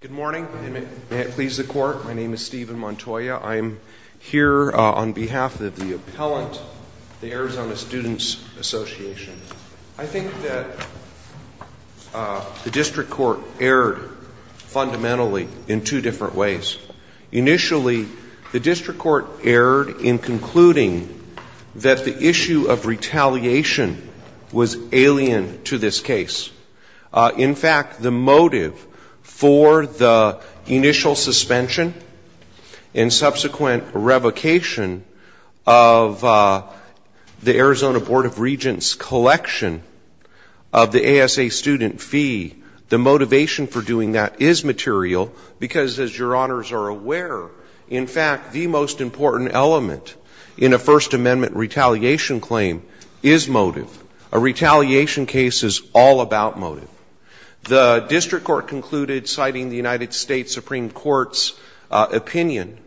Good morning. May it please the court, my name is Stephen Montoya. I'm here on behalf of the appellant, the Arizona Students' Association. I think that the district court erred fundamentally in two different ways. Initially, the district court erred in concluding that the issue of retaliation was alien to this case. In fact, the motive for the initial suspension and subsequent revocation of the Arizona Board of Regents' collection of the ASA student fee, the motivation for doing that is material because, as your honors are aware, in fact, the most important element in a First Amendment retaliation claim is motive. A retaliation case is all about motive. The district court concluded, citing the United States Supreme Court's opinion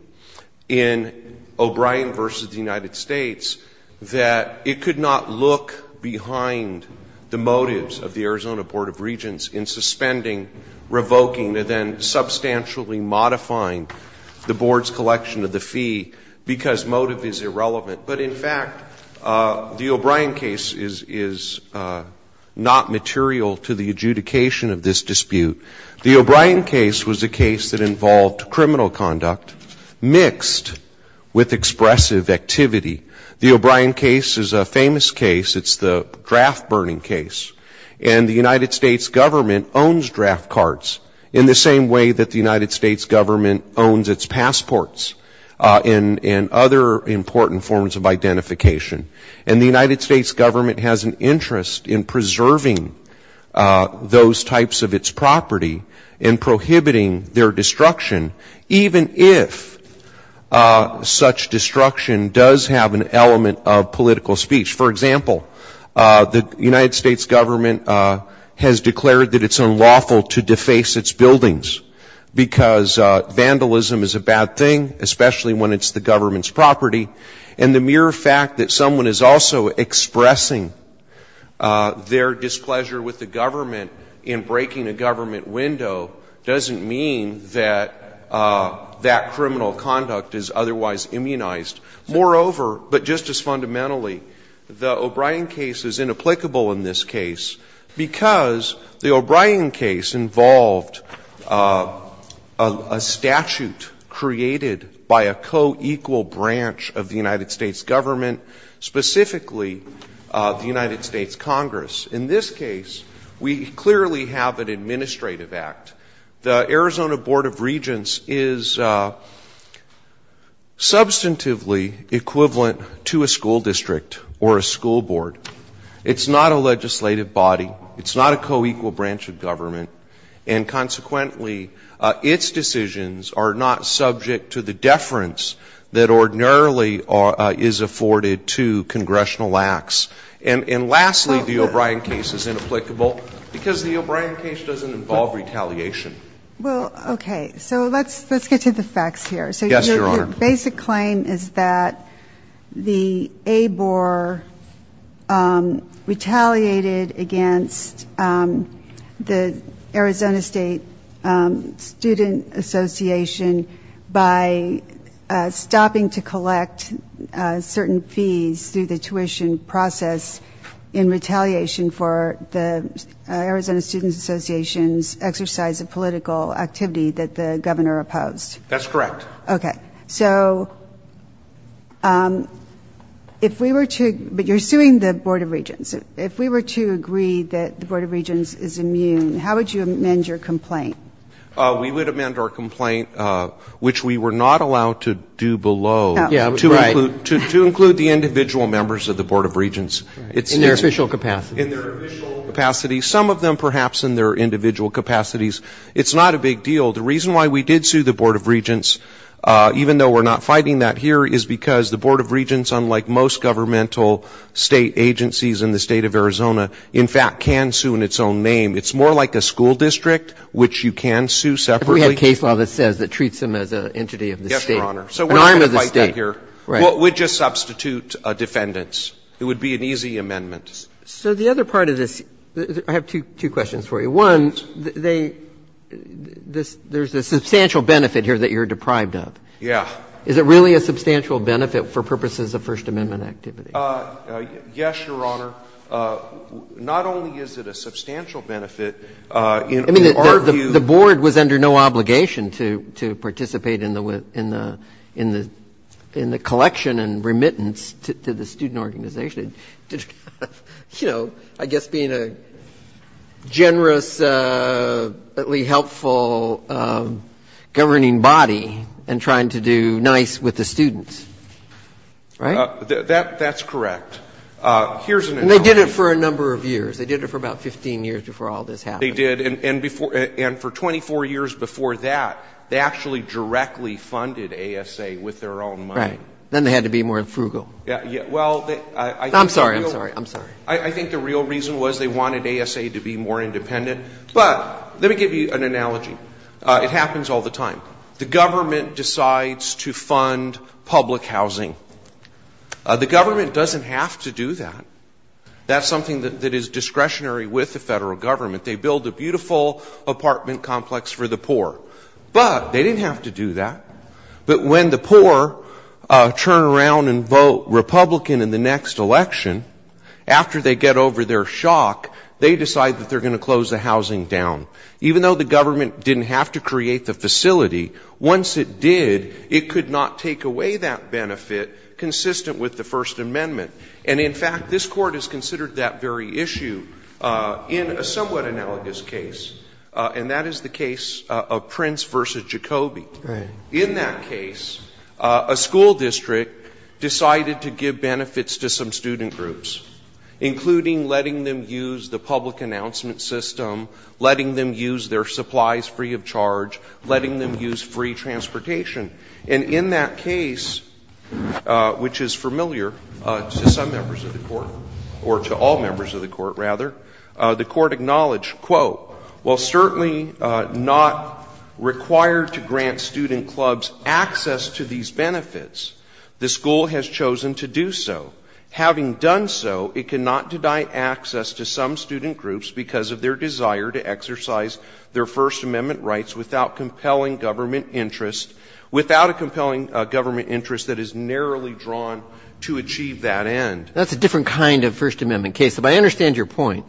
in O'Brien v. the United States, that it could not look behind the motives of the Arizona Board of Regents in suspending, revoking, and then substantially modifying the board's collection of the fee because motive is irrelevant. But in fact, the O'Brien case is not material to the adjudication of this dispute. The O'Brien case was a case that involved criminal conduct mixed with expressive activity. The O'Brien case is a famous case. It's the draft burning case. And the United States government owns draft cards in the same way that the United States government owns its passports and other important forms of identification. And the United States government has an interest in preserving those types of its property and prohibiting their destruction, even if such destruction does have an element of political speech. For example, the United States government has declared that it's unlawful to deface its buildings because vandalism is a bad thing, especially when it's the government's property. And the mere fact that someone is also expressing their displeasure with the government in breaking a government window doesn't mean that that criminal conduct is otherwise immunized. Moreover, but just as fundamentally, the O'Brien case is inapplicable in this case because the O'Brien case involved a statute created by a co-equal branch of the United States government, specifically the United States Congress. In this case, we clearly have an administrative act. The Arizona Board of Regents is substantively equivalent to a school district or a school board. It's not a legislative body. It's not a co-equal branch of government. And consequently, its decisions are not subject to the deference that ordinarily is afforded to congressional acts. And lastly, the O'Brien case is inapplicable because the O'Brien case doesn't involve retaliation. Well, okay. So let's get to the facts here. Yes, Your Honor. The basic claim is that the ABOR retaliated against the Arizona State Student Association by stopping to collect certain fees through the tuition process in retaliation for the Arizona Student Association's exercise of political activity that the governor opposed. That's correct. Okay. So if we were to ‑‑ but you're suing the Board of Regents. If we were to agree that the Board of Regents is immune, how would you amend your complaint? We would amend our complaint, which we were not allowed to do below, to include the individual members of the Board of Regents. In their official capacity. In their official capacity, some of them perhaps in their individual capacities. It's not a big deal. The reason why we did sue the Board of Regents, even though we're not fighting that here, is because the Board of Regents, unlike most governmental State agencies in the State of Arizona, in fact can sue in its own name. It's more like a school district, which you can sue separately. We have a case law that says it treats them as an entity of the State. Yes, Your Honor. An arm of the State. So we're not going to fight that here. Right. We'd just substitute defendants. It would be an easy amendment. So the other part of this ‑‑ I have two questions for you. One, they ‑‑ there's a substantial benefit here that you're deprived of. Yeah. Is it really a substantial benefit for purposes of First Amendment activity? Yes, Your Honor. Not only is it a substantial benefit, in our view ‑‑ I mean, the Board was under no obligation to participate in the ‑‑ in the collection and remittance to the student organization. I guess being a generously helpful governing body and trying to do nice with the students. Right? That's correct. Here's an analogy. And they did it for a number of years. They did it for about 15 years before all this happened. They did. And for 24 years before that, they actually directly funded ASA with their own money. Right. Then they had to be more frugal. I'm sorry. I'm sorry. I think the real reason was they wanted ASA to be more independent. But let me give you an analogy. It happens all the time. The government decides to fund public housing. The government doesn't have to do that. That's something that is discretionary with the federal government. They build a beautiful apartment complex for the poor. But they didn't have to do that. But when the poor turn around and vote Republican in the next election, after they get over their shock, they decide that they're going to close the housing down. Even though the government didn't have to create the facility, once it did, it could not take away that benefit consistent with the First Amendment. And, in fact, this Court has considered that very issue in a somewhat analogous case, and that is the case of Prince v. Jacoby. In that case, a school district decided to give benefits to some student groups, including letting them use the public announcement system, letting them use their supplies free of charge, letting them use free transportation. And in that case, which is familiar to some members of the Court, or to all members of the Court, rather, the Court acknowledged, quote, "'While certainly not required to grant student clubs access to these benefits, the school has chosen to do so. Having done so, it cannot deny access to some student groups because of their desire to exercise their First Amendment rights without compelling government interest, without a compelling government interest that is narrowly drawn to achieve that end.'" That's a different kind of First Amendment case. But I understand your point.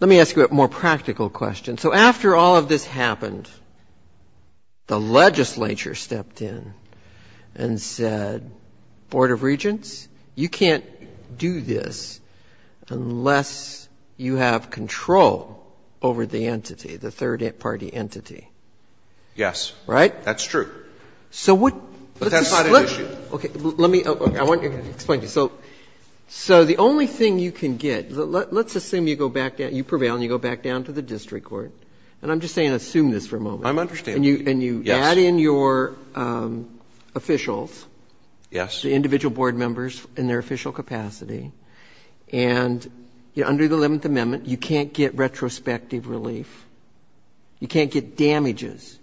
Let me ask you a more practical question. So after all of this happened, the legislature stepped in and said, Board of Regents, you can't do this unless you have control over the entity, the third party entity. Yes. Right? That's true. But that's not an issue. Okay. Let me explain to you. So the only thing you can get, let's assume you go back down, you prevail and you go back down to the district court. And I'm just saying assume this for a moment. I'm understanding. Yes. And you add in your officials. Yes. The individual board members in their official capacity. And under the Eleventh Amendment, you can't get retrospective relief. You can't get damages.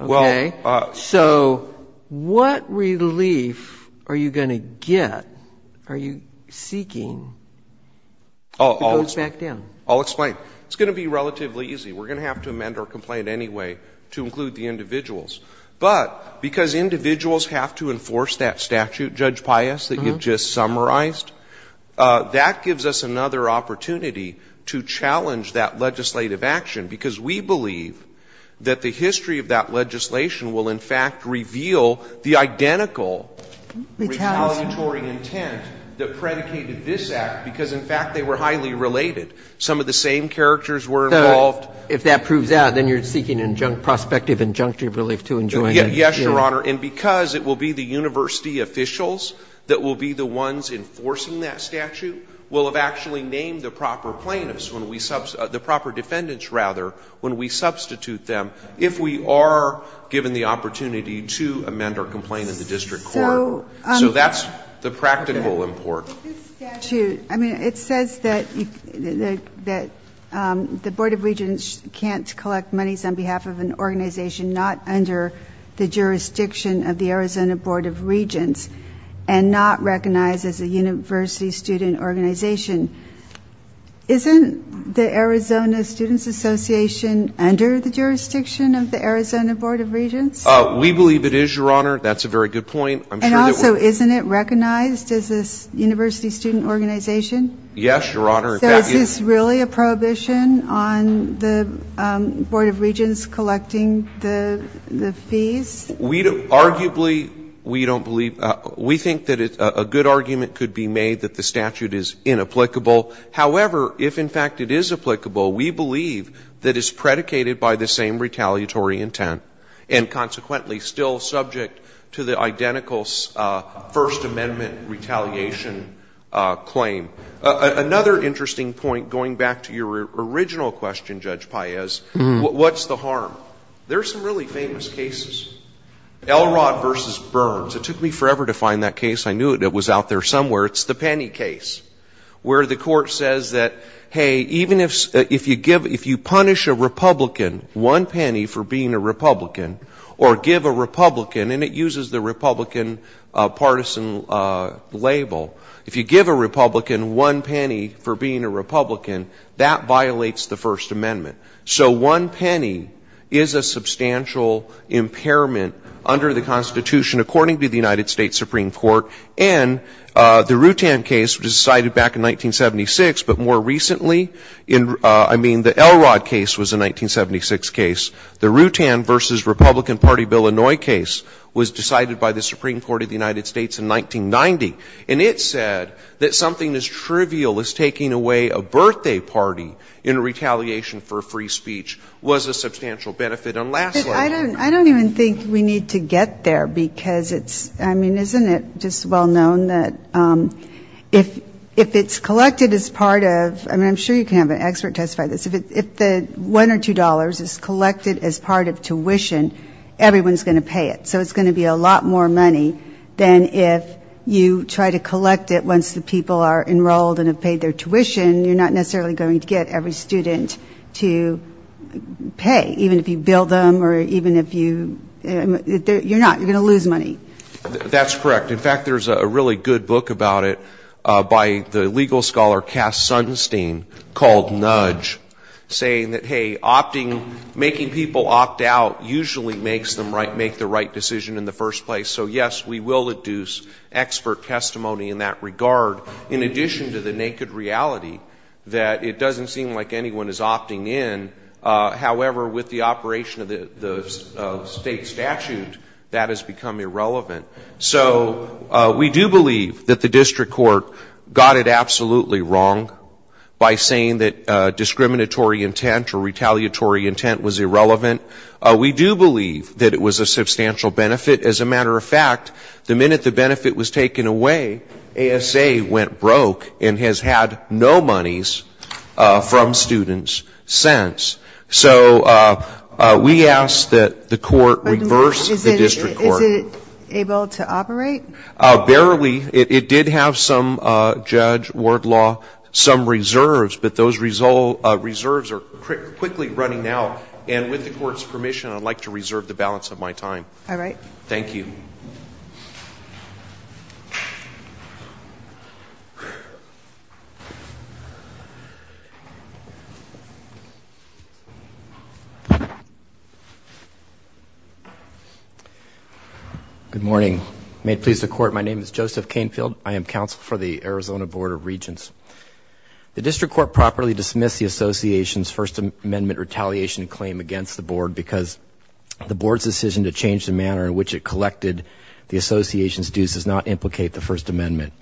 Okay. So what relief are you going to get, are you seeking, who goes back down? I'll explain. It's going to be relatively easy. We're going to have to amend our complaint anyway to include the individuals. But because individuals have to enforce that statute, Judge Pius, that you just summarized, that gives us another opportunity to challenge that legislative action, because we believe that the history of that legislation will in fact reveal the identical retaliatory intent that predicated this act, because in fact they were highly related. Some of the same characters were involved. If that proves that, then you're seeking prospective injunctive relief to enjoin that statute. Yes, Your Honor. And because it will be the university officials that will be the ones enforcing that statute will have actually named the proper plaintiffs, the proper defendants rather, when we substitute them if we are given the opportunity to amend our complaint in the district court. So that's the practical import. This statute, I mean, it says that the Board of Regents can't collect monies on behalf of an organization not under the jurisdiction of the Arizona Board of Regents and not recognized as a university student organization. Isn't the Arizona Students Association under the jurisdiction of the Arizona Board of Regents? We believe it is, Your Honor. That's a very good point. And also, isn't it recognized as a university student organization? Yes, Your Honor. So is this really a prohibition on the Board of Regents collecting the fees? Arguably, we don't believe we think that a good argument could be made that the statute is inapplicable. However, if in fact it is applicable, we believe that it's predicated by the same retaliatory intent and consequently still subject to the identical First Amendment retaliation claim. Another interesting point, going back to your original question, Judge Paez, what's the harm? There are some really famous cases. Elrod v. Burns. It took me forever to find that case. I knew it was out there somewhere. It's the penny case where the court says that, hey, even if you punish a Republican one penny for being a Republican or give a Republican, and it uses the Republican partisan label, if you give a Republican one penny for being a Republican, that violates the First Amendment. So one penny is a substantial impairment under the Constitution according to the United States Supreme Court. And the Rutan case was decided back in 1976, but more recently, I mean, the Elrod case was a 1976 case. The Rutan v. Republican Party, Illinois case was decided by the Supreme Court of the United States in 1990, and it said that something as trivial as taking away a birthday party in retaliation for free speech was a substantial benefit. And lastly ---- But I don't even think we need to get there because it's, I mean, isn't it just well known that if it's collected as part of, I mean, I'm sure you can have an expert testify to this, if the $1 or $2 is collected as part of tuition, everyone's going to pay it. So it's going to be a lot more money than if you try to collect it once the people are enrolled and have paid their tuition. You're not necessarily going to get every student to pay, even if you bill them or even if you ---- you're not. You're going to lose money. That's correct. In fact, there's a really good book about it by the legal scholar Cass Sunstein called Nudge, saying that, hey, opting, making people opt out usually makes them make the right decision in the first place. So, yes, we will induce expert testimony in that regard. In addition to the naked reality that it doesn't seem like anyone is opting in. However, with the operation of the state statute, that has become irrelevant. So we do believe that the district court got it absolutely wrong by saying that discriminatory intent or retaliatory intent was irrelevant. We do believe that it was a substantial benefit. As a matter of fact, the minute the benefit was taken away, ASA went broke and has had no monies from students since. So we ask that the court reverse the district court. Is it able to operate? Barely. It did have some, Judge Wardlaw, some reserves. But those reserves are quickly running out. And with the court's permission, I'd like to reserve the balance of my time. All right. Thank you. Good morning. May it please the court, my name is Joseph Canfield. I am counsel for the Arizona Board of Regents. The district court properly dismissed the association's First Amendment retaliation claim against the board because the board's decision to change the manner in which it collected the association's dues does not implicate the First Amendment.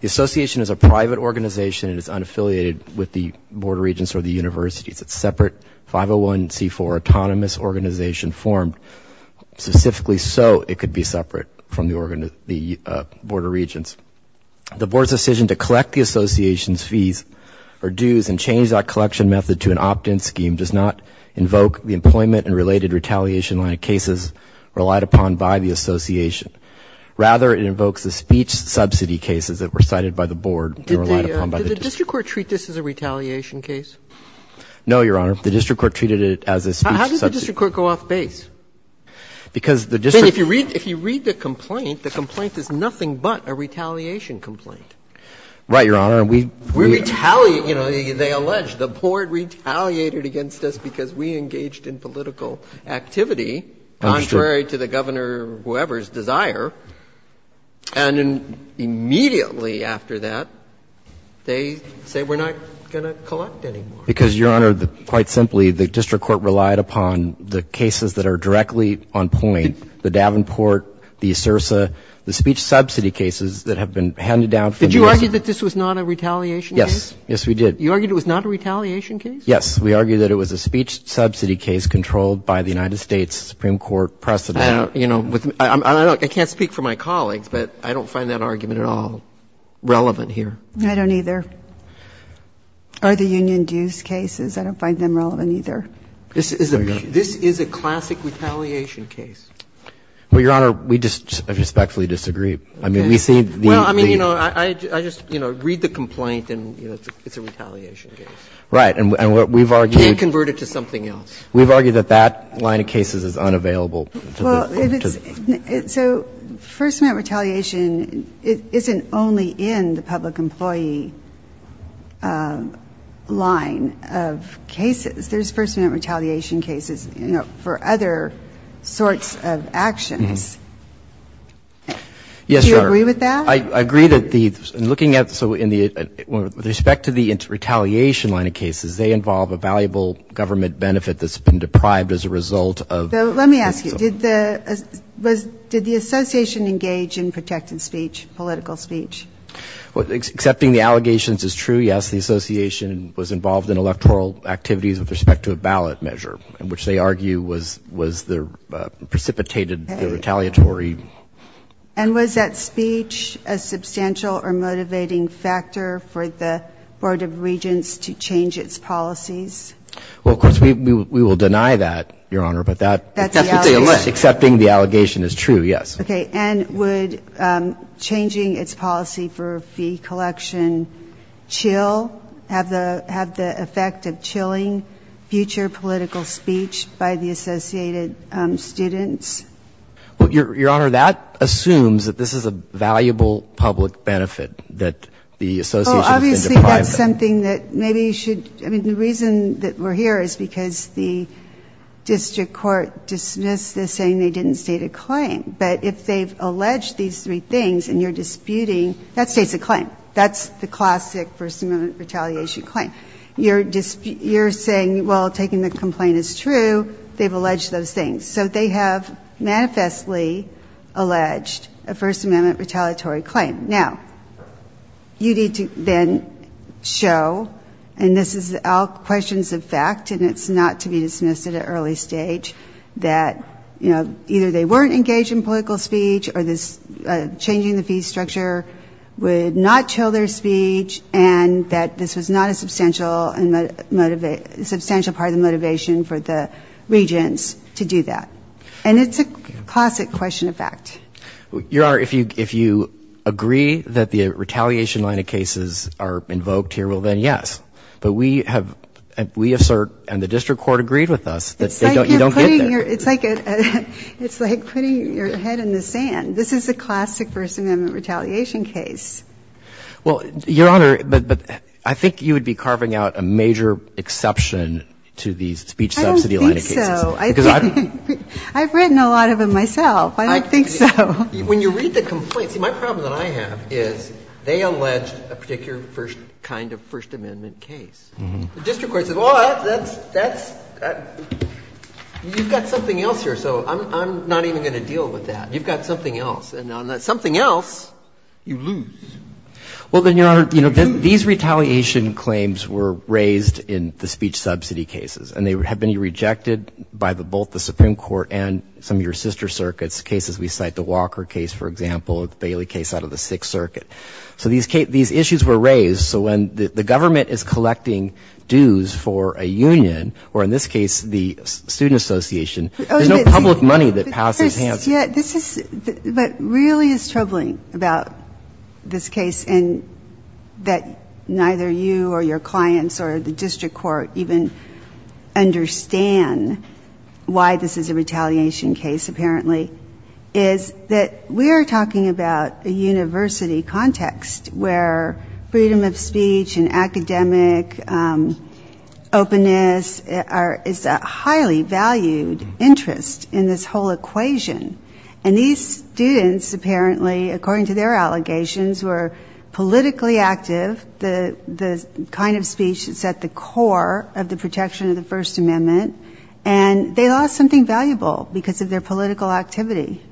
The association is a private organization. It is unaffiliated with the Board of Regents or the universities. It's a separate 501c4 autonomous organization formed specifically so it could be separate from the Board of Regents. The board's decision to collect the association's fees or dues and change that collection method to an opt-in scheme does not invoke the employment and related retaliation line of cases relied upon by the association. Rather, it invokes the speech subsidy cases that were cited by the board and relied upon by the district court. Did the district court treat this as a retaliation case? No, Your Honor. The district court treated it as a speech subsidy case. How did the district court go off base? Because the district court If you read the complaint, the complaint is nothing but a retaliation complaint. Right, Your Honor. We retaliate. You know, they allege the board retaliated against us because we engaged in political activity contrary to the governor or whoever's desire. And immediately after that, they say we're not going to collect anymore. Because, Your Honor, quite simply, the district court relied upon the cases that are directly on point, the Davenport, the Asursa, the speech subsidy cases that have been handed down. Did you argue that this was not a retaliation case? Yes. Yes, we did. You argued it was not a retaliation case? Yes. We argued that it was a speech subsidy case controlled by the United States Supreme Court precedent. I don't, you know, I can't speak for my colleagues, but I don't find that argument at all relevant here. I don't either. Or the union dues cases. I don't find them relevant either. This is a classic retaliation case. Well, Your Honor, we just respectfully disagree. I mean, we see the No, I mean, you know, I just, you know, read the complaint and, you know, it's a retaliation case. Right. And what we've argued You can't convert it to something else. We've argued that that line of cases is unavailable. Well, so First Amendment retaliation isn't only in the public employee line of cases. There's First Amendment retaliation cases, you know, for other sorts of actions. Yes, Your Honor. Do you agree with that? I agree that the, in looking at, so in the, with respect to the retaliation line of cases, they involve a valuable government benefit that's been deprived as a result of So let me ask you, did the, was, did the association engage in protected speech, political speech? Well, accepting the allegations is true, yes. The association was involved in electoral activities with respect to a ballot measure, which they argue was, was the, precipitated the retaliatory And was that speech a substantial or motivating factor for the Board of Regents to change its policies? Well, of course, we will deny that, Your Honor, but that That's what they allege. Accepting the allegation is true, yes. Okay. And would changing its policy for fee collection chill, have the, have the effect of chilling future political speech by the associated students? Well, Your Honor, that assumes that this is a valuable public benefit that the association has been deprived of. Well, obviously, that's something that maybe you should, I mean, the reason that we're here is because the district court dismissed this saying they didn't state a claim. But if they've alleged these three things and you're disputing, that states a claim. That's the classic First Amendment retaliation claim. You're saying, well, taking the complaint is true, they've alleged those things. So they have manifestly alleged a First Amendment retaliatory claim. Now, you need to then show, and this is all questions of fact and it's not to be dismissed at an early stage, that, you know, either they weren't engaged in political speech or this changing the fee structure would not chill their speech and that this was not a substantial part of the motivation for the regents to do that. And it's a classic question of fact. Your Honor, if you agree that the retaliation line of cases are invoked here, well, then yes. But we have, we assert, and the district court agreed with us, that you don't get there. It's like putting your head in the sand. This is a classic First Amendment retaliation case. Well, Your Honor, but I think you would be carving out a major exception to these speech subsidy line of cases. I don't think so. I've written a lot of them myself. I don't think so. When you read the complaint, see, my problem that I have is they alleged a particular kind of First Amendment case. The district court says, well, that's, you've got something else here, so I'm not even going to deal with that. You've got something else. And on that something else, you lose. Well, then, Your Honor, you know, these retaliation claims were raised in the speech subsidy cases. And they have been rejected by both the Supreme Court and some of your sister circuits, cases we cite, the Walker case, for example, the Bailey case out of the Sixth Circuit. So these issues were raised. So when the government is collecting dues for a union, or in this case the student association, there's no public money that passes hands. But what really is troubling about this case, and that neither you or your clients or the district court even understand why this is a retaliation case, apparently, is that we are talking about a university context where freedom of speech and freedom of expression is the most important thing. And these students, apparently, according to their allegations, were politically active. The kind of speech that set the core of the protection of the First Amendment. And they lost something valuable because of their political activity.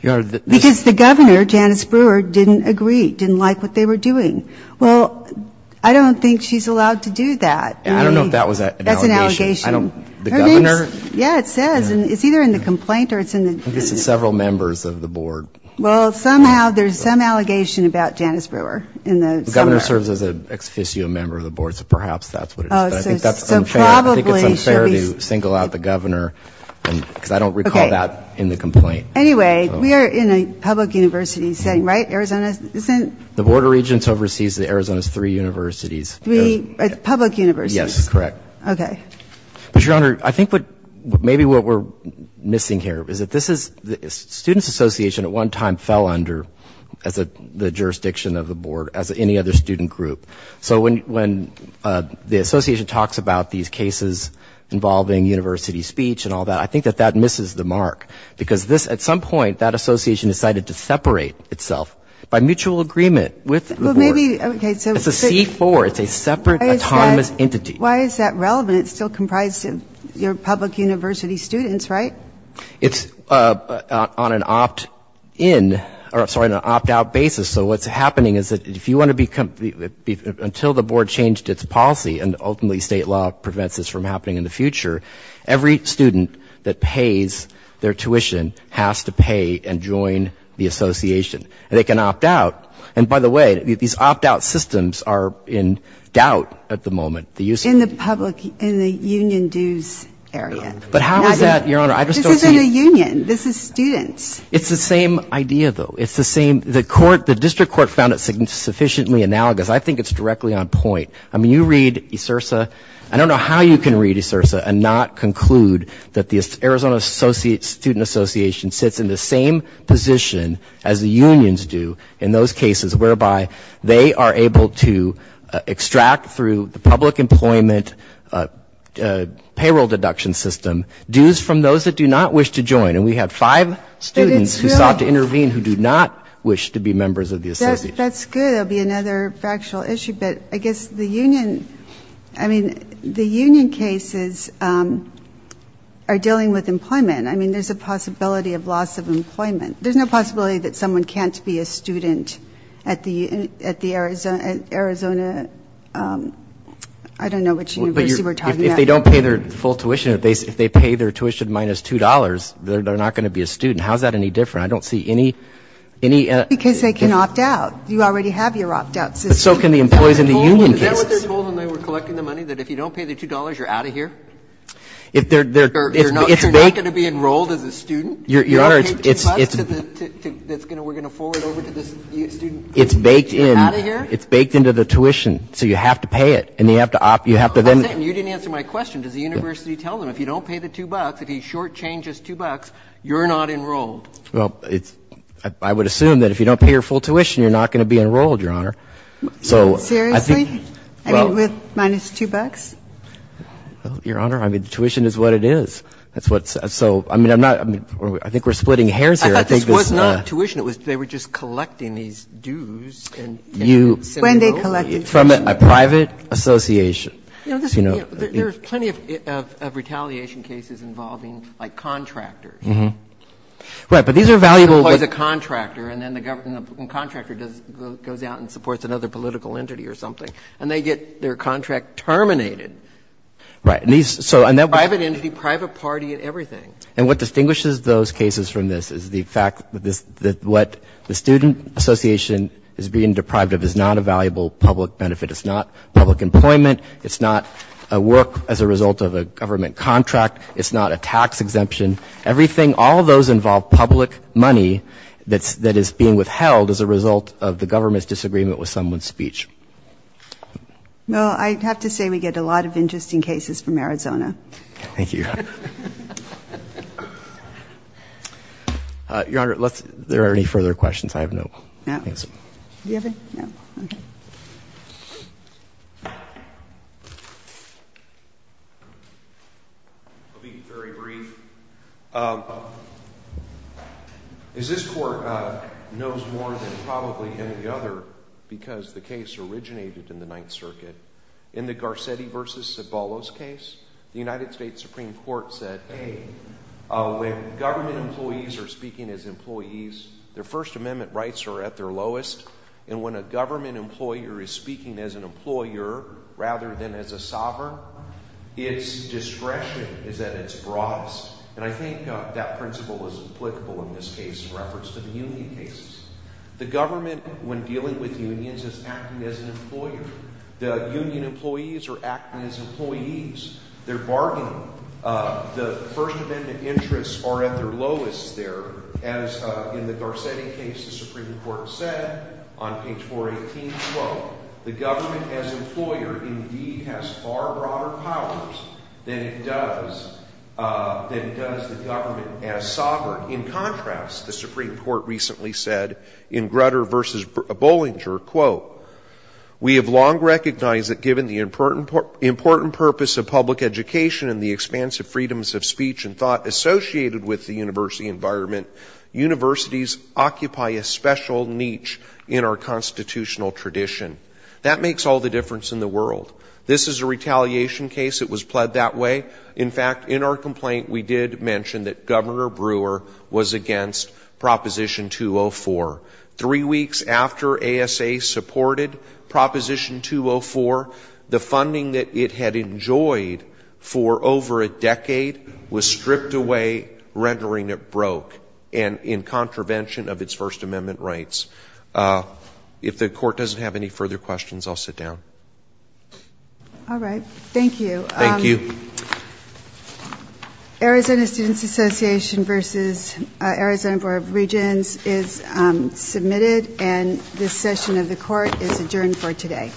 Because the governor, Janice Brewer, didn't agree, didn't like what they were doing. Well, I don't think she's allowed to do that. I don't know if that was an allegation. That's an allegation. The governor? Yeah, it says. And it's either in the complaint or it's in the... I guess it's several members of the board. Well, somehow there's some allegation about Janice Brewer in the... The governor serves as an ex-officio member of the board. So perhaps that's what it is. But I think that's unfair. So probably... I think it's unfair to single out the governor. Because I don't recall that in the complaint. Anyway, we are in a public university setting, right? Arizona isn't... The Board of Regents oversees Arizona's three universities. Three public universities. Yes, correct. But, Your Honor, I think maybe what we're missing here is that this is... Students Association at one time fell under the jurisdiction of the board as any other student group. So when the association talks about these cases involving university speech and all that, I think that that misses the mark. Because at some point that association decided to separate itself by mutual agreement with the board. Well, maybe... It's a C-4. It's a separate autonomous entity. Why is that relevant? It's still comprised of your public university students, right? It's on an opt-in... Sorry, an opt-out basis. So what's happening is that if you want to become... Until the board changed its policy, and ultimately state law prevents this from happening in the future, every student that pays their tuition has to pay and join the association. And they can opt out. And, by the way, these opt-out systems are in doubt at the moment. In the public, in the union dues area. But how is that, Your Honor? This isn't a union. This is students. It's the same idea, though. It's the same... The district court found it sufficiently analogous. I think it's directly on point. I mean, you read ESRSA. I don't know how you can read ESRSA and not conclude that the Arizona Student Association sits in the same position as the unions do in those cases whereby they are able to extract, through the public employment payroll deduction system, dues from those that do not wish to join. And we have five students who sought to intervene who do not wish to be members of the association. That's good. That would be another factual issue. But I guess the union... I mean, the union cases are dealing with employment. I mean, there's a possibility of loss of employment. There's no possibility that someone can't be a student at the Arizona, I don't know which university we're talking about. If they don't pay their full tuition, if they pay their tuition minus $2, they're not going to be a student. How is that any different? I don't see any... Because they can opt out. You already have your opt-out system. But so can the employees in the union cases. Is that what they're told when they were collecting the money, that if you don't pay the $2, you're out of here? If they're... You're not going to be enrolled as a student? If you don't pay $2, we're going to forward it over to the student. It's baked in. You're out of here? It's baked into the tuition. So you have to pay it. And you have to then... That's it. And you didn't answer my question. Does the university tell them if you don't pay the $2, if he short-changes $2, you're not enrolled? Well, I would assume that if you don't pay your full tuition, you're not going to be enrolled, Your Honor. So... Seriously? I mean, with minus $2? Your Honor, I mean, tuition is what it is. That's what's so – I mean, I'm not – I think we're splitting hairs here. I thought this was not tuition. It was they were just collecting these dues and... When they collected tuition. From a private association. You know, there's plenty of retaliation cases involving, like, contractors. Right. But these are valuable... Employs a contractor, and then the contractor goes out and supports another political entity or something. And they get their contract terminated. Right. And these – so... Private entity, private party, and everything. And what distinguishes those cases from this is the fact that what the student association is being deprived of is not a valuable public benefit. It's not public employment. It's not a work as a result of a government contract. It's not a tax exemption. Everything – all of those involve public money that is being withheld as a result of the government's disagreement with someone's speech. Well, I have to say we get a lot of interesting cases from Arizona. Thank you. Your Honor, let's – there are any further questions? I have no answer. No. Do you have any? No. Okay. I'll be very brief. This Court knows more than probably any other because the case originated in the Ninth Circuit. In the Garcetti v. Cibolo's case, the United States Supreme Court said, hey, when government employees are speaking as employees, their First Amendment rights are at their lowest. And when a government employer is speaking as an employer rather than as a And I think that principle is applicable in this case in reference to the union cases. The government, when dealing with unions, is acting as an employer. The union employees are acting as employees. They're bargaining. The First Amendment interests are at their lowest there. As in the Garcetti case, the Supreme Court said on page 418, quote, the government as employer indeed has far broader powers than it does the government as sovereign. In contrast, the Supreme Court recently said in Grutter v. Bollinger, quote, we have long recognized that given the important purpose of public education and the expansive freedoms of speech and thought associated with the university environment, universities occupy a special niche in our constitutional tradition. That makes all the difference in the world. This is a retaliation case. It was pled that way. In fact, in our complaint, we did mention that Governor Brewer was against Proposition 204. Three weeks after ASA supported Proposition 204, the funding that it had enjoyed for over a decade was stripped away, rendering it broke, and in contravention of its First Amendment rights. If the Court doesn't have any further questions, I'll sit down. All right. Thank you. Thank you. Arizona Students Association v. Arizona Board of Regents is submitted, and this session of the Court is adjourned for today.